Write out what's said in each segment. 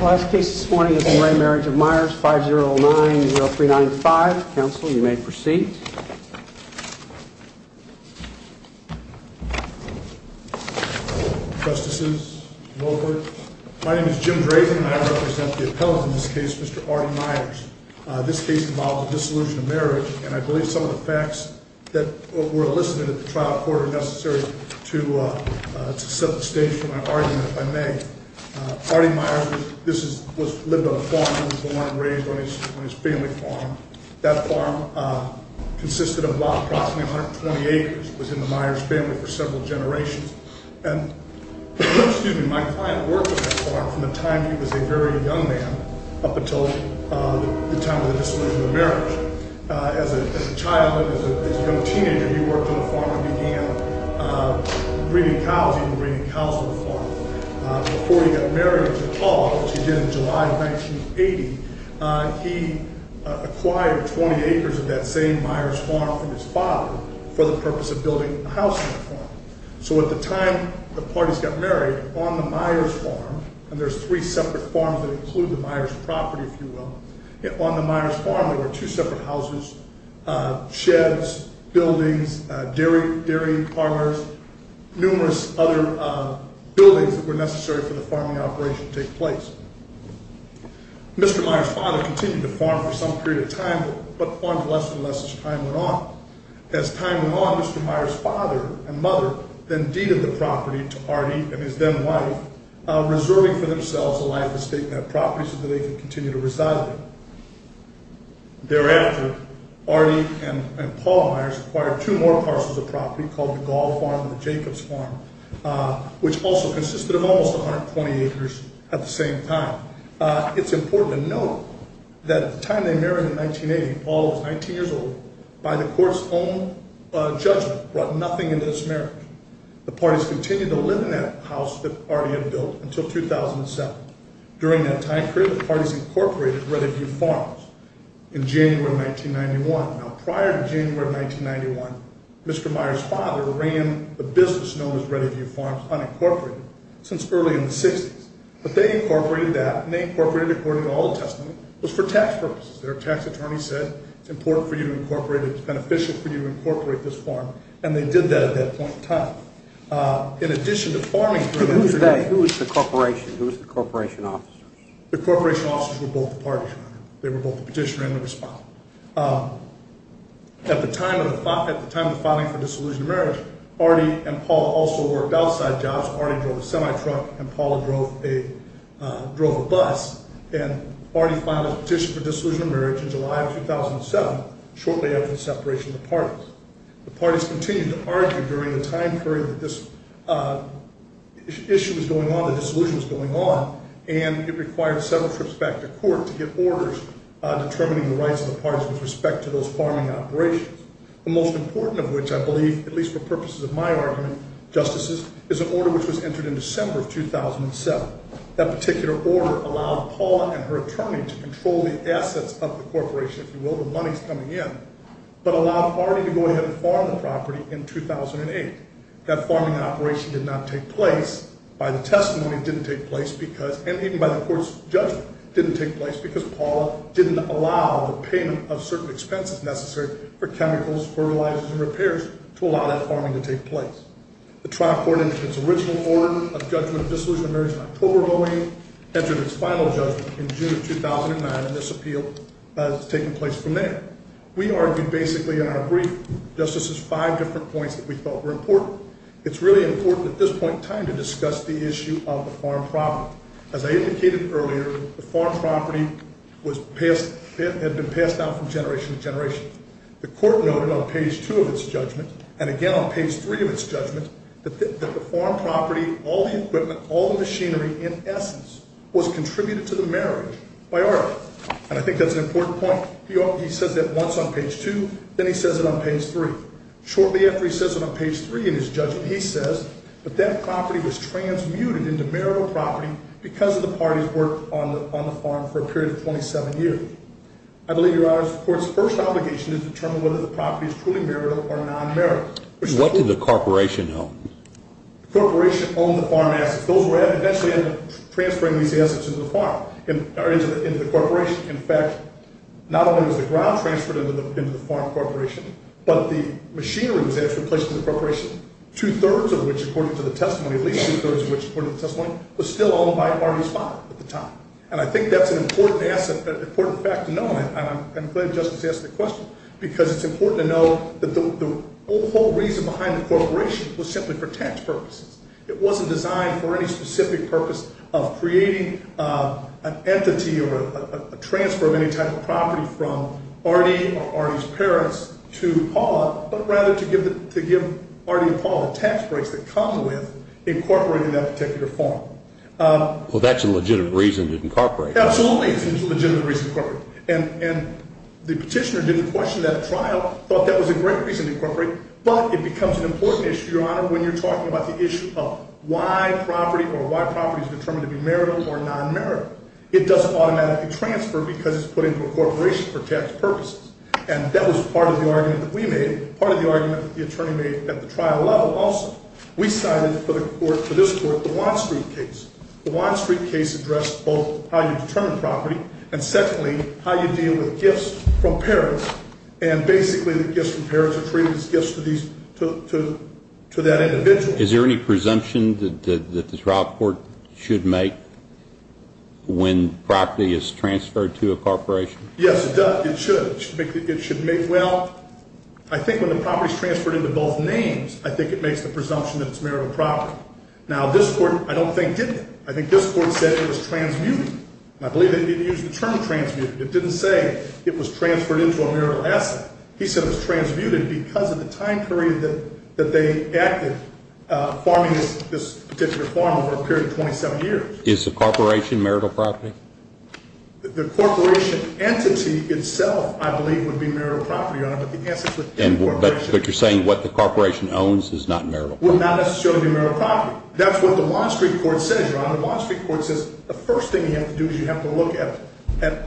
Last case this morning is in re Marriage of Myers, 5-0-9-0-3-9-5. Counsel, you may proceed. Trustees, members, my name is Jim Drazen and I represent the appellant in this case, Mr. Artie Myers. This case involves a dissolution of marriage and I believe some of the facts that were elicited at the trial court are necessary to set the stage for my argument, if I may. Artie Myers lived on a farm. He was born and raised on his family farm. That farm consisted of approximately 120 acres. It was in the Myers family for several generations. My client worked on that farm from the time he was a very young man up until the time of the dissolution of marriage. As a child, as a young teenager, he worked on the farm and began breeding cows, even breeding cows on the farm. Before he got married to Paul, which he did in July of 1980, he acquired 20 acres of that same Myers farm from his father for the purpose of building a house on the farm. So at the time the parties got married, on the Myers farm, and there's three separate farms that include the Myers property, if you will, on the Myers farm there were two separate houses, sheds, buildings, dairy farmers, numerous other buildings that were necessary for the farming operation to take place. Mr. Myers' father continued to farm for some period of time but farmed less and less as time went on. As time went on, Mr. Myers' father and mother then deeded the property to Artie and his then wife, reserving for themselves a life estate in that property so that they could continue to reside there. Thereafter, Artie and Paul Myers acquired two more parcels of property called the Gall Farm and the Jacobs Farm, which also consisted of almost 120 acres at the same time. It's important to note that the time they married in 1980, Paul was 19 years old, by the court's own judgment brought nothing into this marriage. The parties continued to live in that house that Artie had built until 2007. During that time period, the parties incorporated Reddiview Farms in January of 1991. Now prior to January of 1991, Mr. Myers' father ran a business known as Reddiview Farms, unincorporated, since early in the 60s. But they incorporated that, and they incorporated it according to the Old Testament, it was for tax purposes. Their tax attorney said, it's important for you to incorporate it, it's beneficial for you to incorporate this farm, and they did that at that point in time. In addition to farming- Who was the corporation? Who was the corporation officers? The corporation officers were both the parties. They were both the petitioner and the respondent. At the time of the filing for disillusioned marriage, Artie and Paul also worked outside jobs. Artie drove a semi-truck, and Paul drove a bus, and Artie filed a petition for disillusioned marriage in July of 2007, shortly after the separation of the parties. The parties continued to argue during the time period that this issue was going on, that disillusion was going on, and it required several trips back to court to get orders determining the rights of the parties with respect to those farming operations. The most important of which, I believe, at least for purposes of my argument, justices, is an order which was entered in December of 2007. That particular order allowed Paul and her attorney to control the assets of the corporation, if you will, the money's coming in, but allowed Artie to go ahead and farm the property in 2008. That farming operation did not take place, by the testimony it didn't take place, and even by the court's judgment, didn't take place, because Paul didn't allow the payment of certain expenses necessary for chemicals, fertilizers, and repairs to allow that farming to take place. The trial court, in its original form of judgment of disillusioned marriage in October of 2008, entered its final judgment in June of 2009, and this appeal has taken place from there. We argued basically on a brief, justices, five different points that we felt were important. It's really important at this point in time to discuss the issue of the farm property. As I indicated earlier, the farm property had been passed down from generation to generation. The court noted on page two of its judgment, and again on page three of its judgment, that the farm property, all the equipment, all the machinery, in essence, was contributed to the marriage by Artie. And I think that's an important point. He says that once on page two, then he says it on page three. Shortly after he says it on page three in his judgment, he says that that property was transmuted into marital property because of the party's work on the farm for a period of 27 years. I believe, Your Honors, the court's first obligation is to determine whether the property is truly marital or non-marital. What did the corporation own? The corporation owned the farm assets. Those were actually transferring these assets into the farm, or into the corporation. In fact, not only was the ground transferred into the farm corporation, but the machinery was actually placed in the corporation, two-thirds of which, according to the testimony, at least two-thirds of which, according to the testimony, was still owned by Artie's father at the time. And I think that's an important fact to know, and I'm glad Justice asked the question, because it's important to know that the whole reason behind the corporation was simply for tax purposes. It wasn't designed for any specific purpose of creating an entity or a transfer of any type of property from Artie or Artie's parents to Paula, but rather to give Artie and Paula tax breaks that come with incorporating that particular farm. Well, that's a legitimate reason to incorporate. Absolutely, it's a legitimate reason to incorporate. And the petitioner didn't question that trial, thought that was a great reason to incorporate, but it becomes an important issue, Your Honor, when you're talking about the issue of why property or why property is determined to be marital or non-marital. It doesn't automatically transfer because it's put into a corporation for tax purposes. And that was part of the argument that we made, part of the argument that the attorney made at the trial level also. We cited for this court the Watt Street case. The Watt Street case addressed both how you determine property, and secondly, how you deal with gifts from parents. And basically, the gifts from parents are treated as gifts to that individual. Is there any presumption that the trial court should make when property is transferred to a corporation? Yes, it does. It should. Well, I think when the property is transferred into both names, I think it makes the presumption that it's marital property. Now, this court, I don't think, didn't. I think this court said it was transmuted. And I believe they didn't use the term transmuted. It didn't say it was transferred into a marital asset. He said it was transmuted because of the time period that they acted, farming this particular farm over a period of 27 years. Is the corporation marital property? The corporation entity itself, I believe, would be marital property, Your Honor, but the assets would be corporation. But you're saying what the corporation owns is not marital property? Would not necessarily be marital property. That's what the Watt Street court says, Your Honor. The first thing you have to do is you have to look at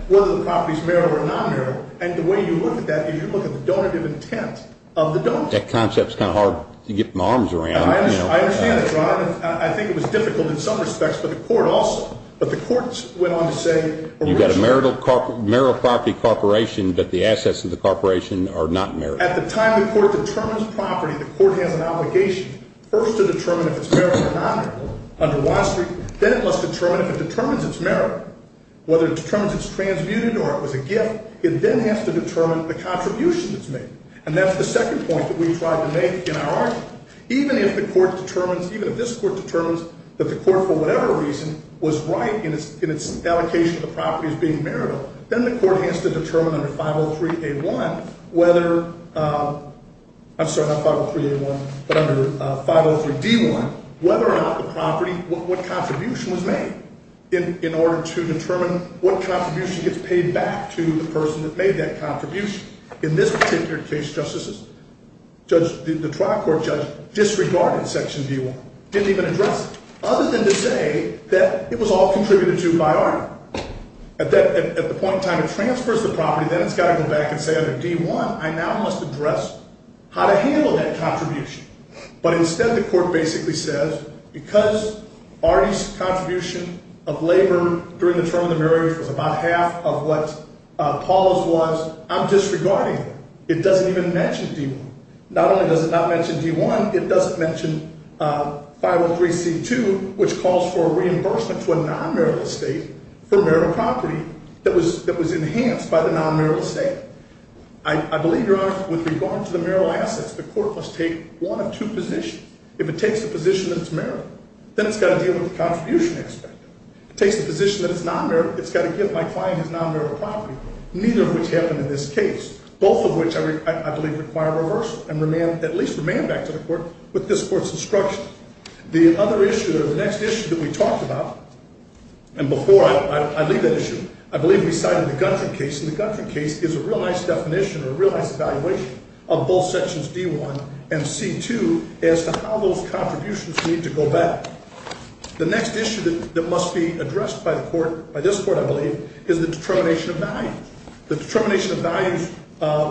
whether the property is marital or non-marital. And the way you look at that is you look at the donative intent of the donative intent. That concept is kind of hard to get my arms around. I understand that, Your Honor. I think it was difficult in some respects, but the court also. But the court went on to say originally. You've got a marital property corporation, but the assets of the corporation are not marital. At the time the court determines property, the court has an obligation first to determine if it's marital or non-marital. Under Watt Street, then it must determine if it determines it's marital. Whether it determines it's transmuted or it was a gift, it then has to determine the contribution it's made. And that's the second point that we tried to make in our argument. Even if the court determines, even if this court determines that the court, for whatever reason, was right in its allocation of the property as being marital, then the court has to determine under 503A1 whether, I'm sorry, not 503A1, but under 503D1, whether or not the property, what contribution was made. In order to determine what contribution gets paid back to the person that made that contribution. In this particular case, the trial court judge disregarded section D1. Didn't even address it. Other than to say that it was all contributed to by Arnold. At the point in time it transfers the property, then it's got to go back and say, under D1, I now must address how to handle that contribution. But instead, the court basically says, because Arnie's contribution of labor during the term of the marriage was about half of what Paula's was, I'm disregarding it. It doesn't even mention D1. Not only does it not mention D1, it doesn't mention 503C2, which calls for a reimbursement to a non-marital estate for marital property that was enhanced by the non-marital estate. I believe, Your Honor, with regard to the marital assets, the court must take one of two positions. If it takes the position that it's marital, then it's got to deal with the contribution aspect. It takes the position that it's non-marital, it's got to give my client his non-marital property, neither of which happened in this case. Both of which, I believe, require reversal and at least remand back to the court with this court's instruction. The other issue or the next issue that we talked about, and before I leave that issue, I believe we cited the Gunther case. And the Gunther case is a real nice definition or a real nice evaluation of both sections D1 and C2 as to how those contributions need to go back. The next issue that must be addressed by the court, by this court, I believe, is the determination of values. The determination of values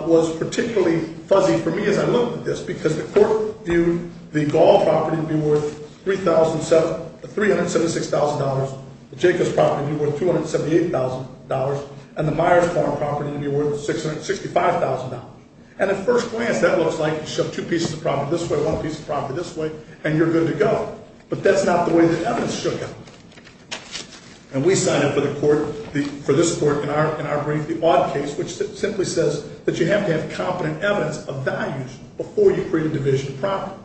was particularly fuzzy for me as I looked at this, because the court viewed the Gall property to be worth $376,000, the Jacobs property to be worth $278,000, and the Myers Farm property to be worth $665,000. And at first glance, that looks like you shove two pieces of property this way, one piece of property this way, and you're good to go. But that's not the way the evidence showed up. And we cited for the court, for this court in our brief, the Odd case, which simply says that you have to have competent evidence of values before you create a division of property.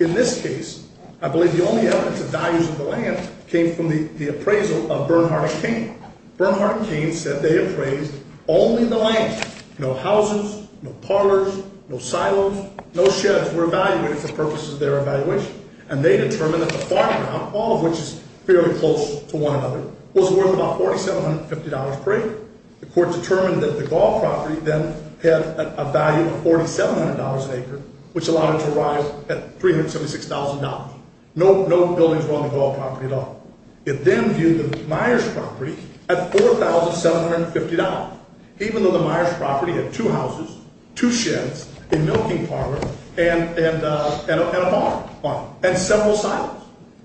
In this case, I believe the only evidence of values of the land came from the appraisal of Bernhard and Kane. Bernhard and Kane said they appraised only the land, no houses, no parlors, no silos, no sheds were evaluated for purposes of their evaluation. And they determined that the farm ground, all of which is fairly close to one another, was worth about $4,750 per acre. The court determined that the Gall property then had a value of $4,700 an acre, which allowed it to rise at $376,000. No buildings were on the Gall property at all. It then viewed the Myers property at $4,750, even though the Myers property had two houses, two sheds, a milking parlor, and a barn, and several silos.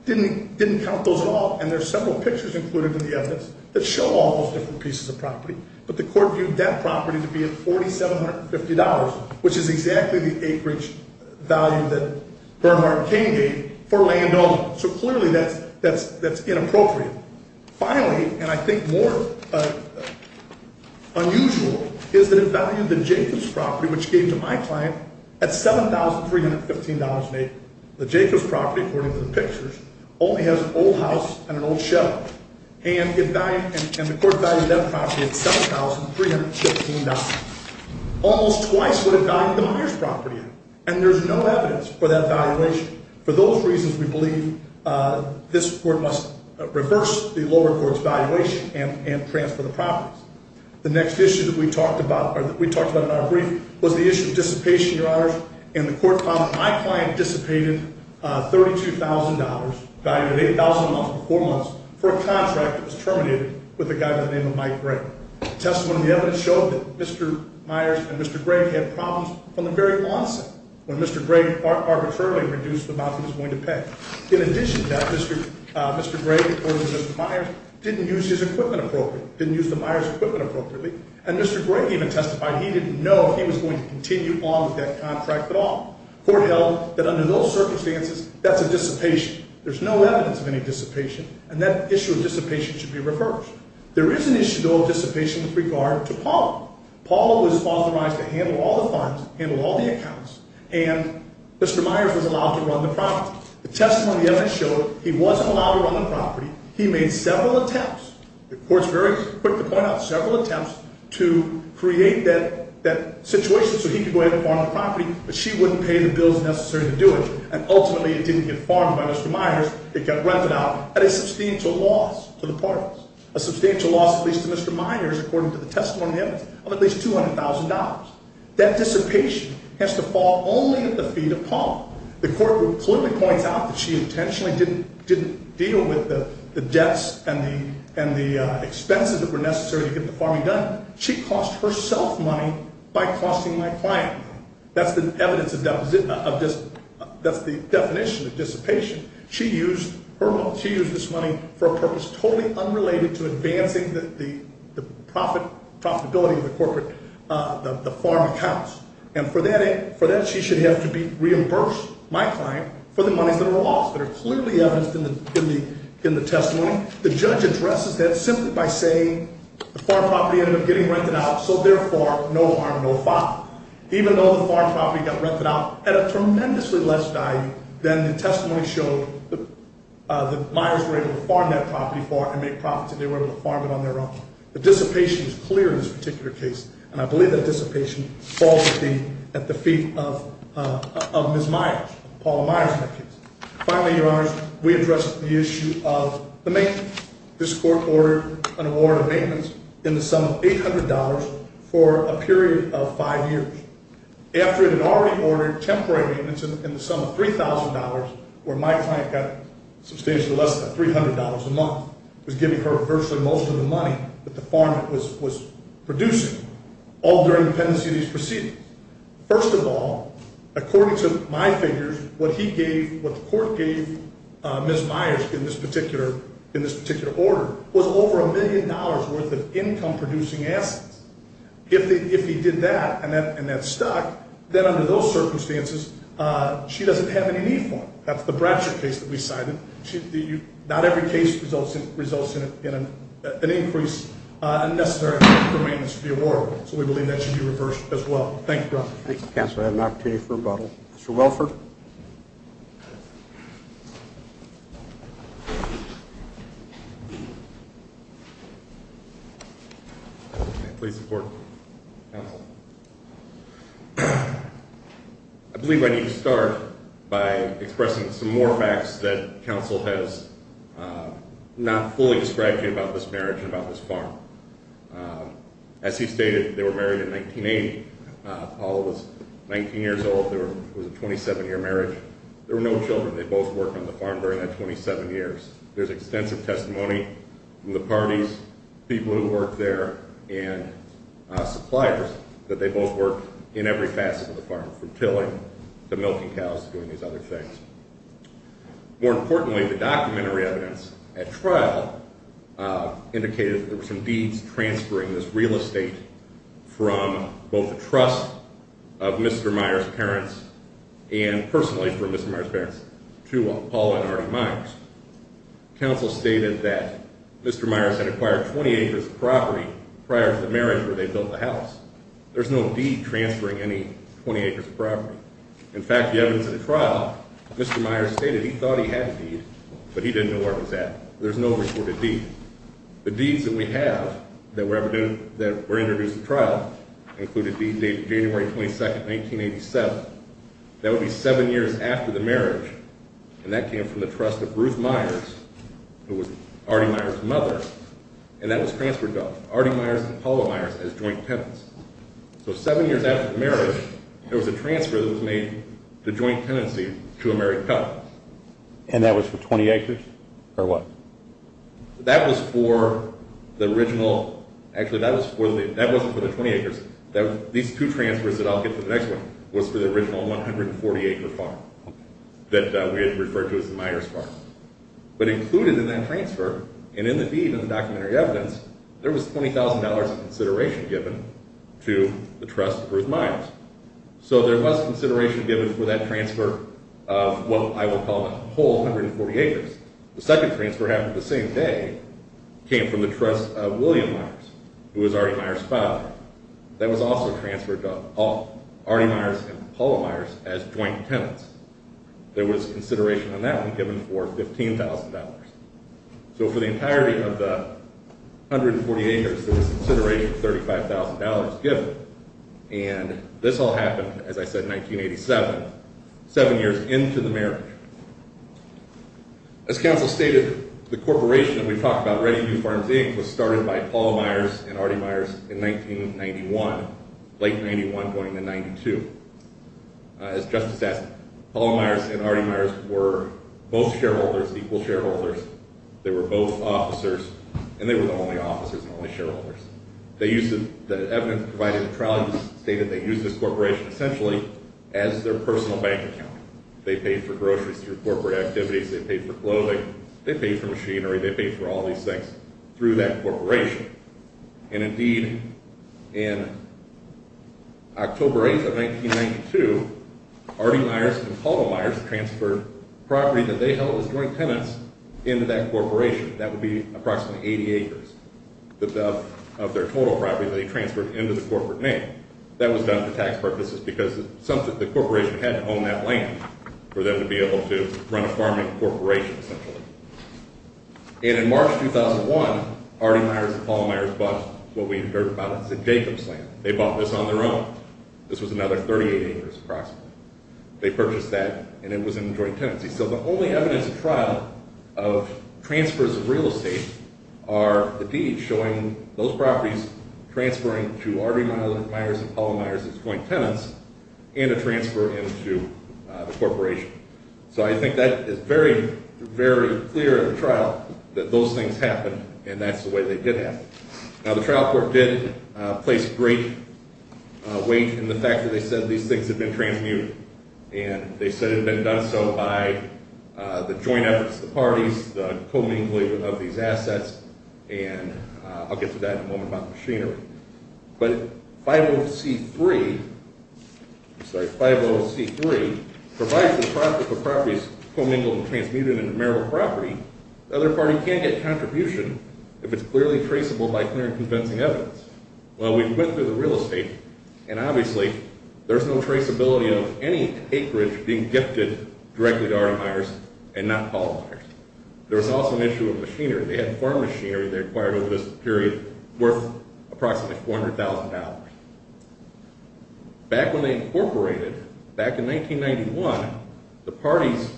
Didn't count those at all. And there's several pictures included in the evidence that show all those different pieces of property. But the court viewed that property to be at $4,750, which is exactly the acreage value that Bernhard and Kane gave for land owned. So clearly that's inappropriate. Finally, and I think more unusual, is that it valued the Jacobs property, which it gave to my client, at $7,315 an acre. The Jacobs property, according to the pictures, only has an old house and an old shed. And the court valued that property at $7,315. Almost twice what it valued the Myers property at. And there's no evidence for that valuation. For those reasons, we believe this court must reverse the lower court's valuation and transfer the properties. The next issue that we talked about in our brief was the issue of dissipation, Your Honors. And the court found that my client dissipated $32,000, valued at $8,000 for four months, for a contract that was terminated with a guy by the name of Mike Gray. Testimony evidence showed that Mr. Myers and Mr. Gray had problems from the very onset. When Mr. Gray arbitrarily reduced the amount he was going to pay. In addition to that, Mr. Gray, according to Mr. Myers, didn't use his equipment appropriately. Didn't use the Myers' equipment appropriately. And Mr. Gray even testified he didn't know if he was going to continue on with that contract at all. Court held that under those circumstances, that's a dissipation. There's no evidence of any dissipation. And that issue of dissipation should be reversed. There is an issue, though, of dissipation with regard to Paulo. Paulo was authorized to handle all the funds, handle all the accounts. And Mr. Myers was allowed to run the property. The testimony evidence showed he wasn't allowed to run the property. He made several attempts. The court's very quick to point out several attempts to create that situation so he could go ahead and farm the property. But she wouldn't pay the bills necessary to do it. And ultimately, it didn't get farmed by Mr. Myers. It got rented out at a substantial loss to the parties. A substantial loss, at least to Mr. Myers, according to the testimony evidence, of at least $200,000. That dissipation has to fall only at the feet of Paulo. The court would clearly point out that she intentionally didn't deal with the debts and the expenses that were necessary to get the farming done. She cost herself money by costing my client money. That's the evidence of just the definition of dissipation. She used this money for a purpose totally unrelated to advancing the profitability of the farm accounts. And for that, she should have to reimburse my client for the monies that were lost that are clearly evidenced in the testimony. The judge addresses that simply by saying the farm property ended up getting rented out, so therefore, no harm, no foul. Even though the farm property got rented out at a tremendously less value, then the testimony showed that Myers were able to farm that property for it and make profits. And they were able to farm it on their own. The dissipation is clear in this particular case. And I believe that dissipation falls at the feet of Ms. Myers, Paulo Myers in that case. Finally, Your Honors, we address the issue of the maintenance. This court ordered an award of maintenance in the sum of $800 for a period of five years. After it had already ordered temporary maintenance in the sum of $3,000, where my client got substantially less than $300 a month, was giving her virtually most of the money that the farm was producing, all during the pendency of these proceedings. First of all, according to my figures, what the court gave Ms. Myers in this particular order was over a million dollars worth of income-producing assets. If he did that and that stuck, then under those circumstances, she doesn't have any need for them. That's the Bradsher case that we cited. Not every case results in an increase in necessary maintenance to be awarded, so we believe that should be reversed as well. Thank you, Your Honor. Thank you, Counselor. I have an opportunity for rebuttal. Mr. Welford. Please support, Counsel. I believe I need to start by expressing some more facts that Counsel has not fully described to you about this marriage and about this farm. As he stated, they were married in 1980. Paula was 19 years old. There was a 27-year marriage. There were no children. They both worked on the farm during that 27 years. There's extensive testimony from the parties, people who worked there, and suppliers that they both worked in every facet of the farm, from tilling to milking cows to doing these other things. More importantly, the documentary evidence at trial indicated that there were some deeds transferring this real estate from both the trust of Mr. Myers' parents and personally from Mr. Myers' parents to Paula and Artie Myers. Counsel stated that Mr. Myers had acquired 20 acres of property prior to the marriage where they built the house. There's no deed transferring any 20 acres of property. In fact, the evidence at the trial, Mr. Myers stated he thought he had a deed, but he didn't know where it was at. There's no reported deed. The deeds that we have that were introduced at trial include a deed dated January 22, 1987. That would be seven years after the marriage, and that came from the trust of Ruth Myers, who was Artie Myers' mother, and that was transferred to Artie Myers and Paula Myers as joint tenants. So seven years after the marriage, there was a transfer that was made to joint tenancy to a married couple. And that was for 20 acres, or what? That was for the original...actually, that wasn't for the 20 acres. These two transfers that I'll get to the next one was for the original 140-acre farm that we had referred to as the Myers' farm. But included in that transfer, and in the deed and the documentary evidence, there was $20,000 of consideration given to the trust of Ruth Myers. So there was consideration given for that transfer of what I would call a whole 140 acres. The second transfer happened the same day, came from the trust of William Myers, who was Artie Myers' father. That was also transferred to Artie Myers and Paula Myers as joint tenants. There was consideration on that one given for $15,000. So for the entirety of the 140 acres, there was consideration of $35,000 given. And this all happened, as I said, in 1987, seven years into the marriage. As counsel stated, the corporation that we talked about, Ready New Farms, Inc., was started by Paula Myers and Artie Myers in 1991, late 91 going into 92. As Justice asked, Paula Myers and Artie Myers were both shareholders, equal shareholders. They were both officers, and they were the only officers and only shareholders. The evidence provided in the trial stated they used this corporation essentially as their personal bank account. They paid for groceries through corporate activities, they paid for clothing, they paid for machinery, they paid for all these things through that corporation. And indeed, in October 8th of 1992, Artie Myers and Paula Myers transferred property that they held as joint tenants into that corporation. That would be approximately 80 acres of their total property that they transferred into the corporate name. That was done for tax purposes because the corporation had to own that land for them to be able to run a farming corporation, essentially. And in March 2001, Artie Myers and Paula Myers bought what we've heard about as a Jacob's land. They bought this on their own. This was another 38 acres, approximately. They purchased that, and it was in joint tenancy. So the only evidence in trial of transfers of real estate are indeed showing those properties transferring to Artie Myers and Paula Myers as joint tenants, and a transfer into the corporation. So I think that is very, very clear in the trial, that those things happened, and that's the way they did happen. Now the trial court did place great weight in the fact that they said these things had been transmuted, and they said it had been done so by the joint efforts of the parties, the commingling of these assets, and I'll get to that in a moment about machinery. But 50C3 provides the prospect of properties commingled and transmuted into marital property. The other party can't get contribution if it's clearly traceable by clear and convincing evidence. Well, we went through the real estate, and obviously there's no traceability of any acreage being gifted directly to Artie Myers and not Paula Myers. There was also an issue of machinery. They had farm machinery they acquired over this period worth approximately $400,000. Back when they incorporated, back in 1991, the parties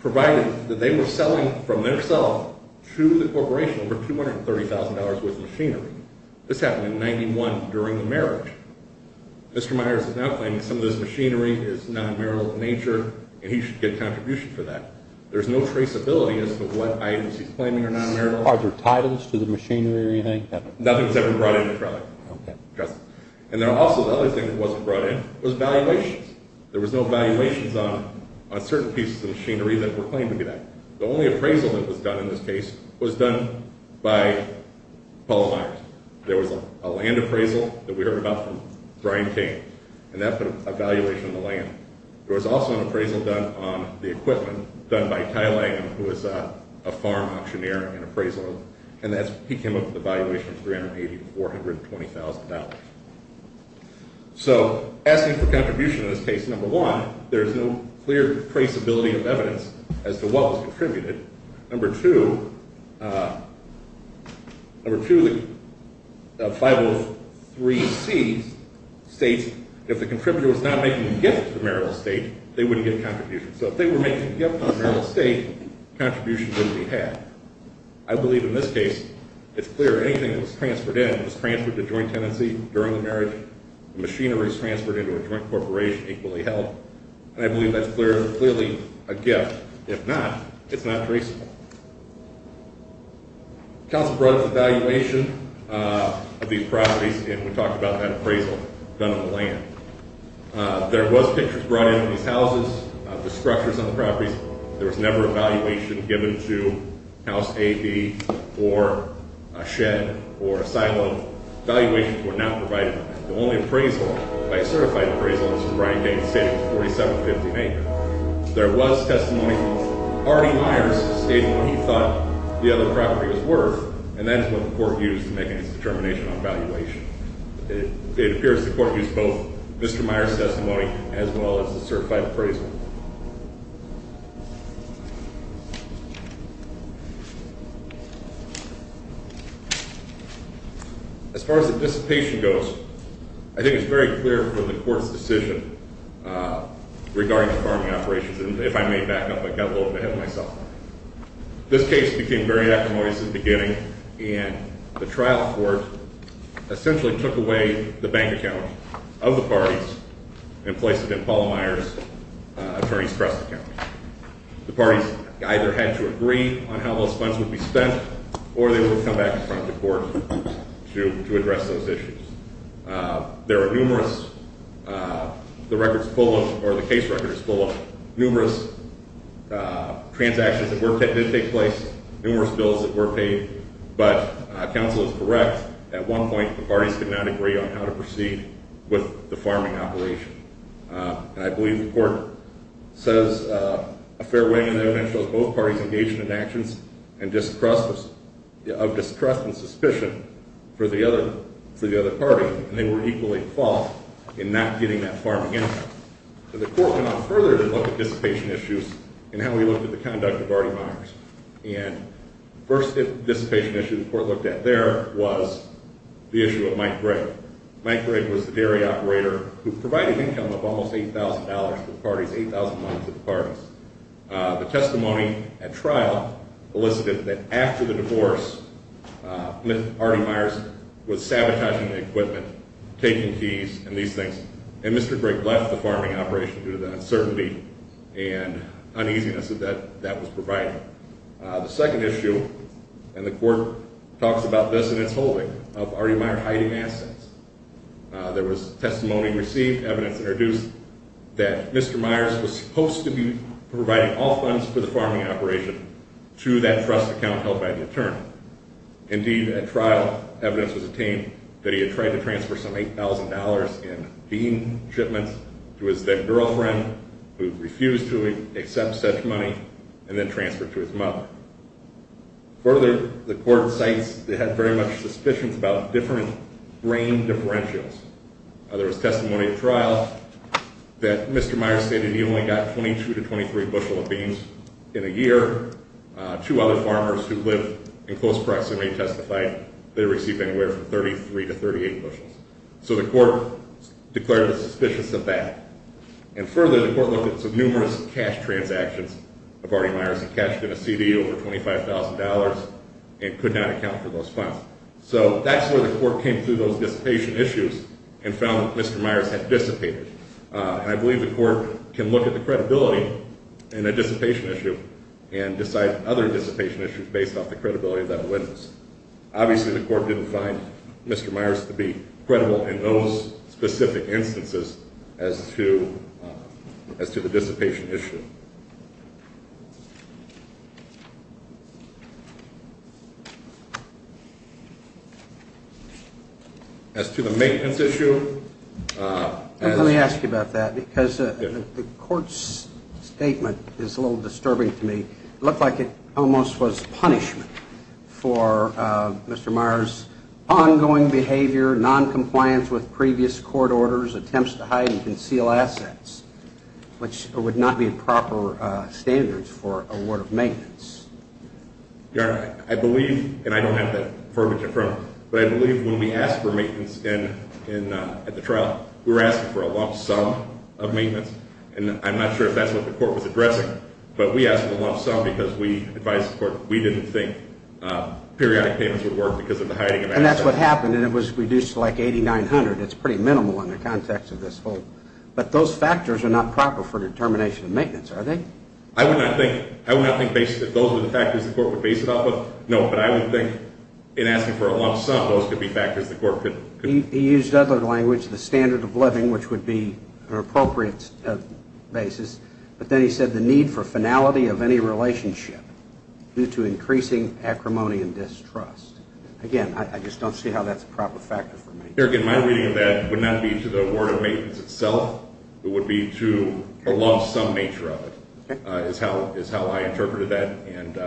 provided that they were selling from themselves to the corporation over $230,000 worth of machinery. This happened in 1991 during the marriage. Mr. Myers is now claiming some of this machinery is non-marital in nature, and he should get contribution for that. There's no traceability as to what items he's claiming are non-marital. Are there titles to the machinery or anything? Nothing that's ever brought in. Okay. And then also the other thing that wasn't brought in was valuations. There was no valuations on certain pieces of machinery that were claimed to be that. The only appraisal that was done in this case was done by Paula Myers. There was a land appraisal that we heard about from Brian Kane, and that put a valuation on the land. There was also an appraisal done on the equipment done by Kyle Langham, who was a farm auctioneer and appraisal, and he came up with a valuation of $380,000 to $420,000. So asking for contribution in this case, number one, there's no clear traceability of evidence as to what was contributed. Number two, 503C states if the contributor was not making a gift to the marital estate, they wouldn't get contribution. So if they were making a gift to the marital estate, contribution wouldn't be had. I believe in this case it's clear anything that was transferred in was transferred to joint tenancy during the marriage. The machinery was transferred into a joint corporation, equally held, and I believe that's clearly a gift. If not, it's not traceable. Council brought an evaluation of these properties, and we talked about that appraisal done on the land. There was pictures brought in of these houses, the structures on the properties. There was never a valuation given to House A, B, or a shed or a silo. Valuations were not provided. The only appraisal, by a certified appraisal, was from Brian Kane's estate. It was 4,750 acres. There was testimony. Artie Myers stated what he thought the other property was worth, and that's what the court used to make its determination on valuation. It appears the court used both Mr. Myers' testimony as well as the certified appraisal. As far as the dissipation goes, I think it's very clear from the court's decision regarding the farming operations, and if I may back up, I got a little bit ahead of myself. This case became very acrimonious in the beginning, and the trial court essentially took away the bank account of the parties and placed it in Paula Myers' attorney's trust account. The parties either had to agree on how those funds would be spent, or they would come back in front of the court to address those issues. The case record is full of numerous transactions that did take place, numerous bills that were paid, but counsel is correct. At one point, the parties could not agree on how to proceed with the farming operation. I believe the court says a fair way in the evidence shows both parties engaged in actions of distrust and suspicion for the other party, and they were equally at fault in not getting that farming income. The court went on further to look at dissipation issues and how we looked at the conduct of Artie Myers. The first dissipation issue the court looked at there was the issue of Mike Gregg. Mike Gregg was the dairy operator who provided income of almost $8,000 to the parties, $8,000 to the parties. The testimony at trial elicited that after the divorce, Artie Myers was sabotaging the equipment, taking keys and these things, and Mr. Gregg left the farming operation due to the uncertainty and uneasiness that that was providing. The second issue, and the court talks about this in its holding, of Artie Myers hiding assets. There was testimony received, evidence introduced that Mr. Myers was supposed to be providing all funds for the farming operation to that trust account held by the attorney. Indeed, at trial, evidence was obtained that he had tried to transfer some $8,000 in bean shipments to his then-girlfriend, who refused to accept such money, and then transferred it to his mother. Further, the court cites they had very much suspicions about different grain differentials. There was testimony at trial that Mr. Myers stated he only got 22 to 23 bushels of beans in a year. Two other farmers who live in close proximity testified they received anywhere from 33 to 38 bushels. So the court declared the suspicious of that. And further, the court looked at some numerous cash transactions of Artie Myers. He cashed in a CD over $25,000 and could not account for those funds. So that's where the court came through those dissipation issues and found that Mr. Myers had dissipated. And I believe the court can look at the credibility in a dissipation issue and decide other dissipation issues based off the credibility of that witness. Obviously, the court didn't find Mr. Myers to be credible in those specific instances as to the dissipation issue. As to the maintenance issue. Let me ask you about that because the court's statement is a little disturbing to me. It looked like it almost was punishment for Mr. Myers' ongoing behavior, noncompliance with previous court orders, attempts to hide and conceal assets, which would not be proper standards for a ward of maintenance. Your Honor, I believe, and I don't have that verbiage in front of me, but I believe when we asked for maintenance at the trial, we were asking for a lump sum of maintenance. And I'm not sure if that's what the court was addressing. But we asked for a lump sum because we advised the court we didn't think periodic payments would work because of the hiding of assets. And that's what happened, and it was reduced to like $8,900. It's pretty minimal in the context of this whole. But those factors are not proper for determination of maintenance, are they? I would not think those are the factors the court would base it off of. No, but I would think in asking for a lump sum, those could be factors the court could. He used other language, the standard of living, which would be an appropriate basis. But then he said the need for finality of any relationship due to increasing acrimony and distrust. Again, I just don't see how that's a proper factor for maintenance. Here again, my reading of that would not be to the word of maintenance itself. It would be to a lump sum nature of it is how I interpreted that. And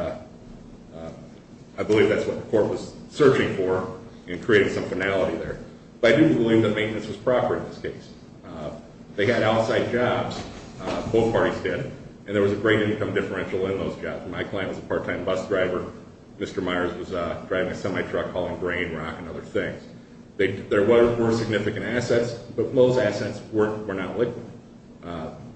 I believe that's what the court was searching for in creating some finality there. But I didn't believe that maintenance was proper in this case. They had outside jobs. Both parties did. And there was a great income differential in those jobs. My client was a part-time bus driver. Mr. Myers was driving a semi-truck hauling grain, rock, and other things. There were significant assets, but most assets were not liquid.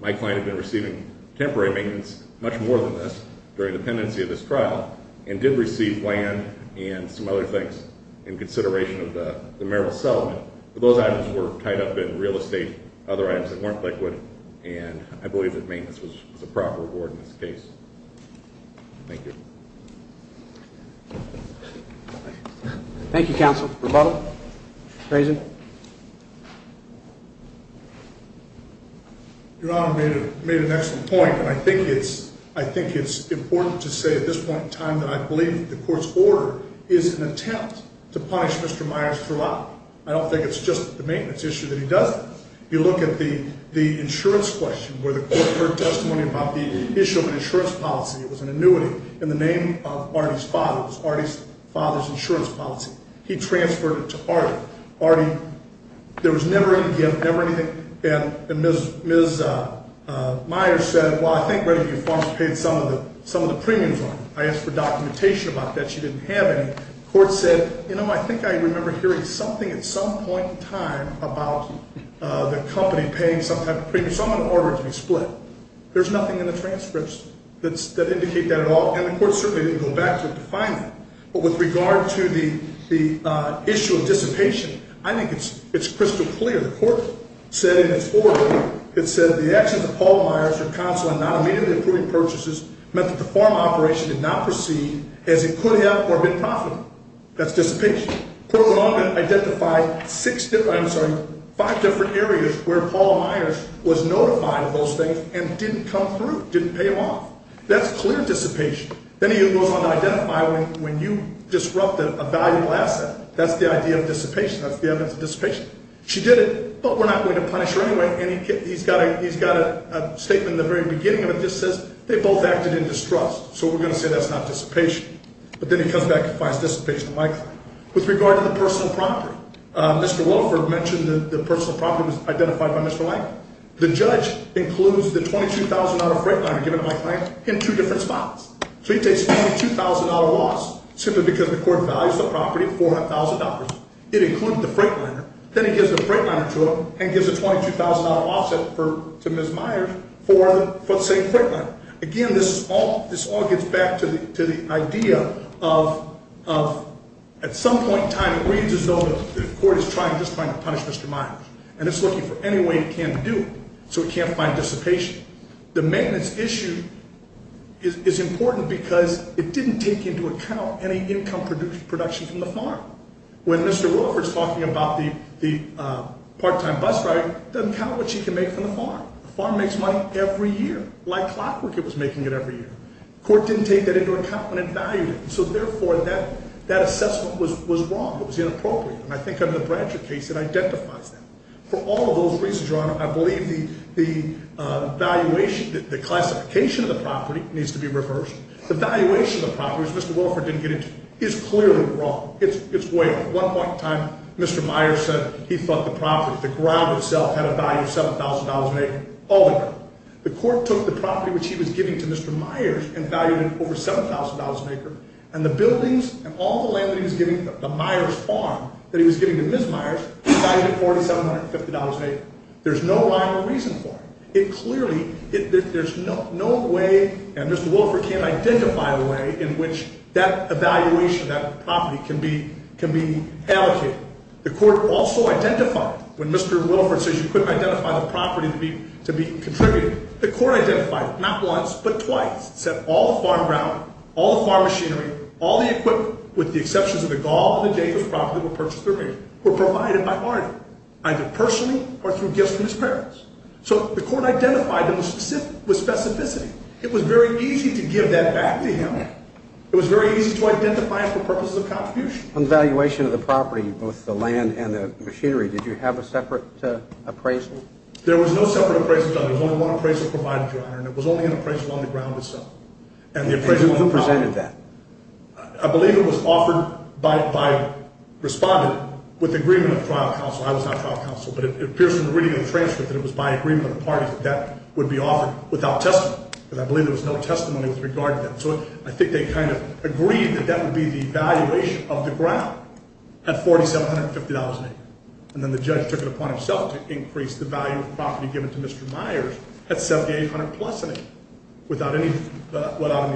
My client had been receiving temporary maintenance, much more than this, during the pendency of this trial and did receive land and some other things in consideration of the marital settlement. But those items were tied up in real estate, other items that weren't liquid, and I believe that maintenance was a proper award in this case. Thank you. Thank you, counsel. Rebuttal? Raison? Your Honor, you made an excellent point, and I think it's important to say at this point in time that I believe the court's order is an attempt to punish Mr. Myers throughout. I don't think it's just the maintenance issue that he doesn't. If you look at the insurance question where the court heard testimony about the issue of an insurance policy, it was an annuity in the name of Artie's father. It was Artie's father's insurance policy. He transferred it to Artie. Artie, there was never any gift, never anything, and Ms. Myers said, well, I think Revenue and Farms paid some of the premiums on it. I asked for documentation about that. She didn't have any. The court said, you know, I think I remember hearing something at some point in time about the company paying some type of premium. So I'm going to order it to be split. There's nothing in the transcripts that indicate that at all, and the court certainly didn't go back to it to find that. But with regard to the issue of dissipation, I think it's crystal clear. The court said in its order, it said, the actions of Paul Myers for counsel in not immediately approving purchases meant that the farm operation did not proceed as it could have or have been profitable. That's dissipation. The court went on to identify five different areas where Paul Myers was notified of those things and didn't come through, didn't pay him off. That's clear dissipation. Then he goes on to identify when you disrupted a valuable asset. That's the idea of dissipation. That's the evidence of dissipation. She did it, but we're not going to punish her anyway, and he's got a statement at the very beginning of it that just says they both acted in distrust. So we're going to say that's not dissipation. But then he comes back and finds dissipation likely. With regard to the personal property, Mr. Wolford mentioned that the personal property was identified by Mr. Lang. The judge includes the $22,000 freightliner given to my client in two different spots. So he takes $22,000 loss simply because the court values the property $400,000. It included the freightliner. Then he gives the freightliner to him and gives a $22,000 loss to Ms. Myers for the same freightliner. Again, this all gets back to the idea of at some point in time, it reads as though the court is just trying to punish Mr. Myers. And it's looking for any way it can to do it so it can't find dissipation. The maintenance issue is important because it didn't take into account any income production from the farm. When Mr. Wolford is talking about the part-time bus driver, it doesn't count what she can make from the farm. The farm makes money every year. Like clockwork, it was making it every year. Court didn't take that into account when it valued it. So therefore, that assessment was wrong. It was inappropriate. And I think under the Bradshaw case, it identifies that. For all of those reasons, Your Honor, I believe the valuation, the classification of the property needs to be reversed. The valuation of the property, which Mr. Wolford didn't get into, is clearly wrong. It's way off. One point in time, Mr. Myers said he thought the property, the ground itself, had a value of $7,000 an acre, all the ground. The court took the property which he was giving to Mr. Myers and valued it over $7,000 an acre. And the buildings and all the land that he was giving, the Myers farm that he was giving to Ms. Myers, he valued it $4,750 an acre. There's no rhyme or reason for it. It clearly, there's no way, and Mr. Wolford can't identify a way in which that evaluation of that property can be allocated. The court also identified, when Mr. Wolford says you couldn't identify the property to be contributed, the court identified not once but twice. It said all the farm ground, all the farm machinery, all the equipment, with the exceptions of the gall and the date of the property were purchased through me, were provided by Arnie, either personally or through gifts from his parents. So the court identified them with specificity. It was very easy to give that back to him. It was very easy to identify it for purposes of contribution. On the valuation of the property, both the land and the machinery, did you have a separate appraisal? There was no separate appraisal, Your Honor. There was only one appraisal provided, Your Honor, and it was only an appraisal on the ground itself. Who presented that? I believe it was offered by a respondent with agreement of trial counsel. I was not trial counsel, but it appears from the reading of the transcript that it was by agreement of the parties that that would be offered without testimony, because I believe there was no testimony with regard to that. So I think they kind of agreed that that would be the valuation of the ground at $4,750 an acre. And then the judge took it upon himself to increase the value of the property given to Mr. Myers at $7,800 plus an acre, without any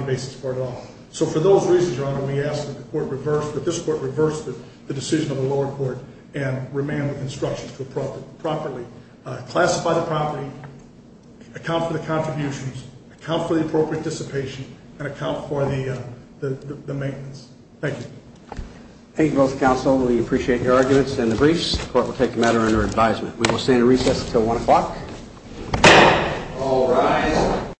basis for it at all. So for those reasons, Your Honor, we ask that the court reverse, that this court reverse the decision of the lower court and remain with instructions to appropriately classify the property, account for the contributions, account for the appropriate dissipation, and account for the maintenance. Thank you. Thank you both, counsel. We appreciate your arguments and the briefs. The court will take the matter under advisement. We will stand at recess until 1 o'clock. All rise.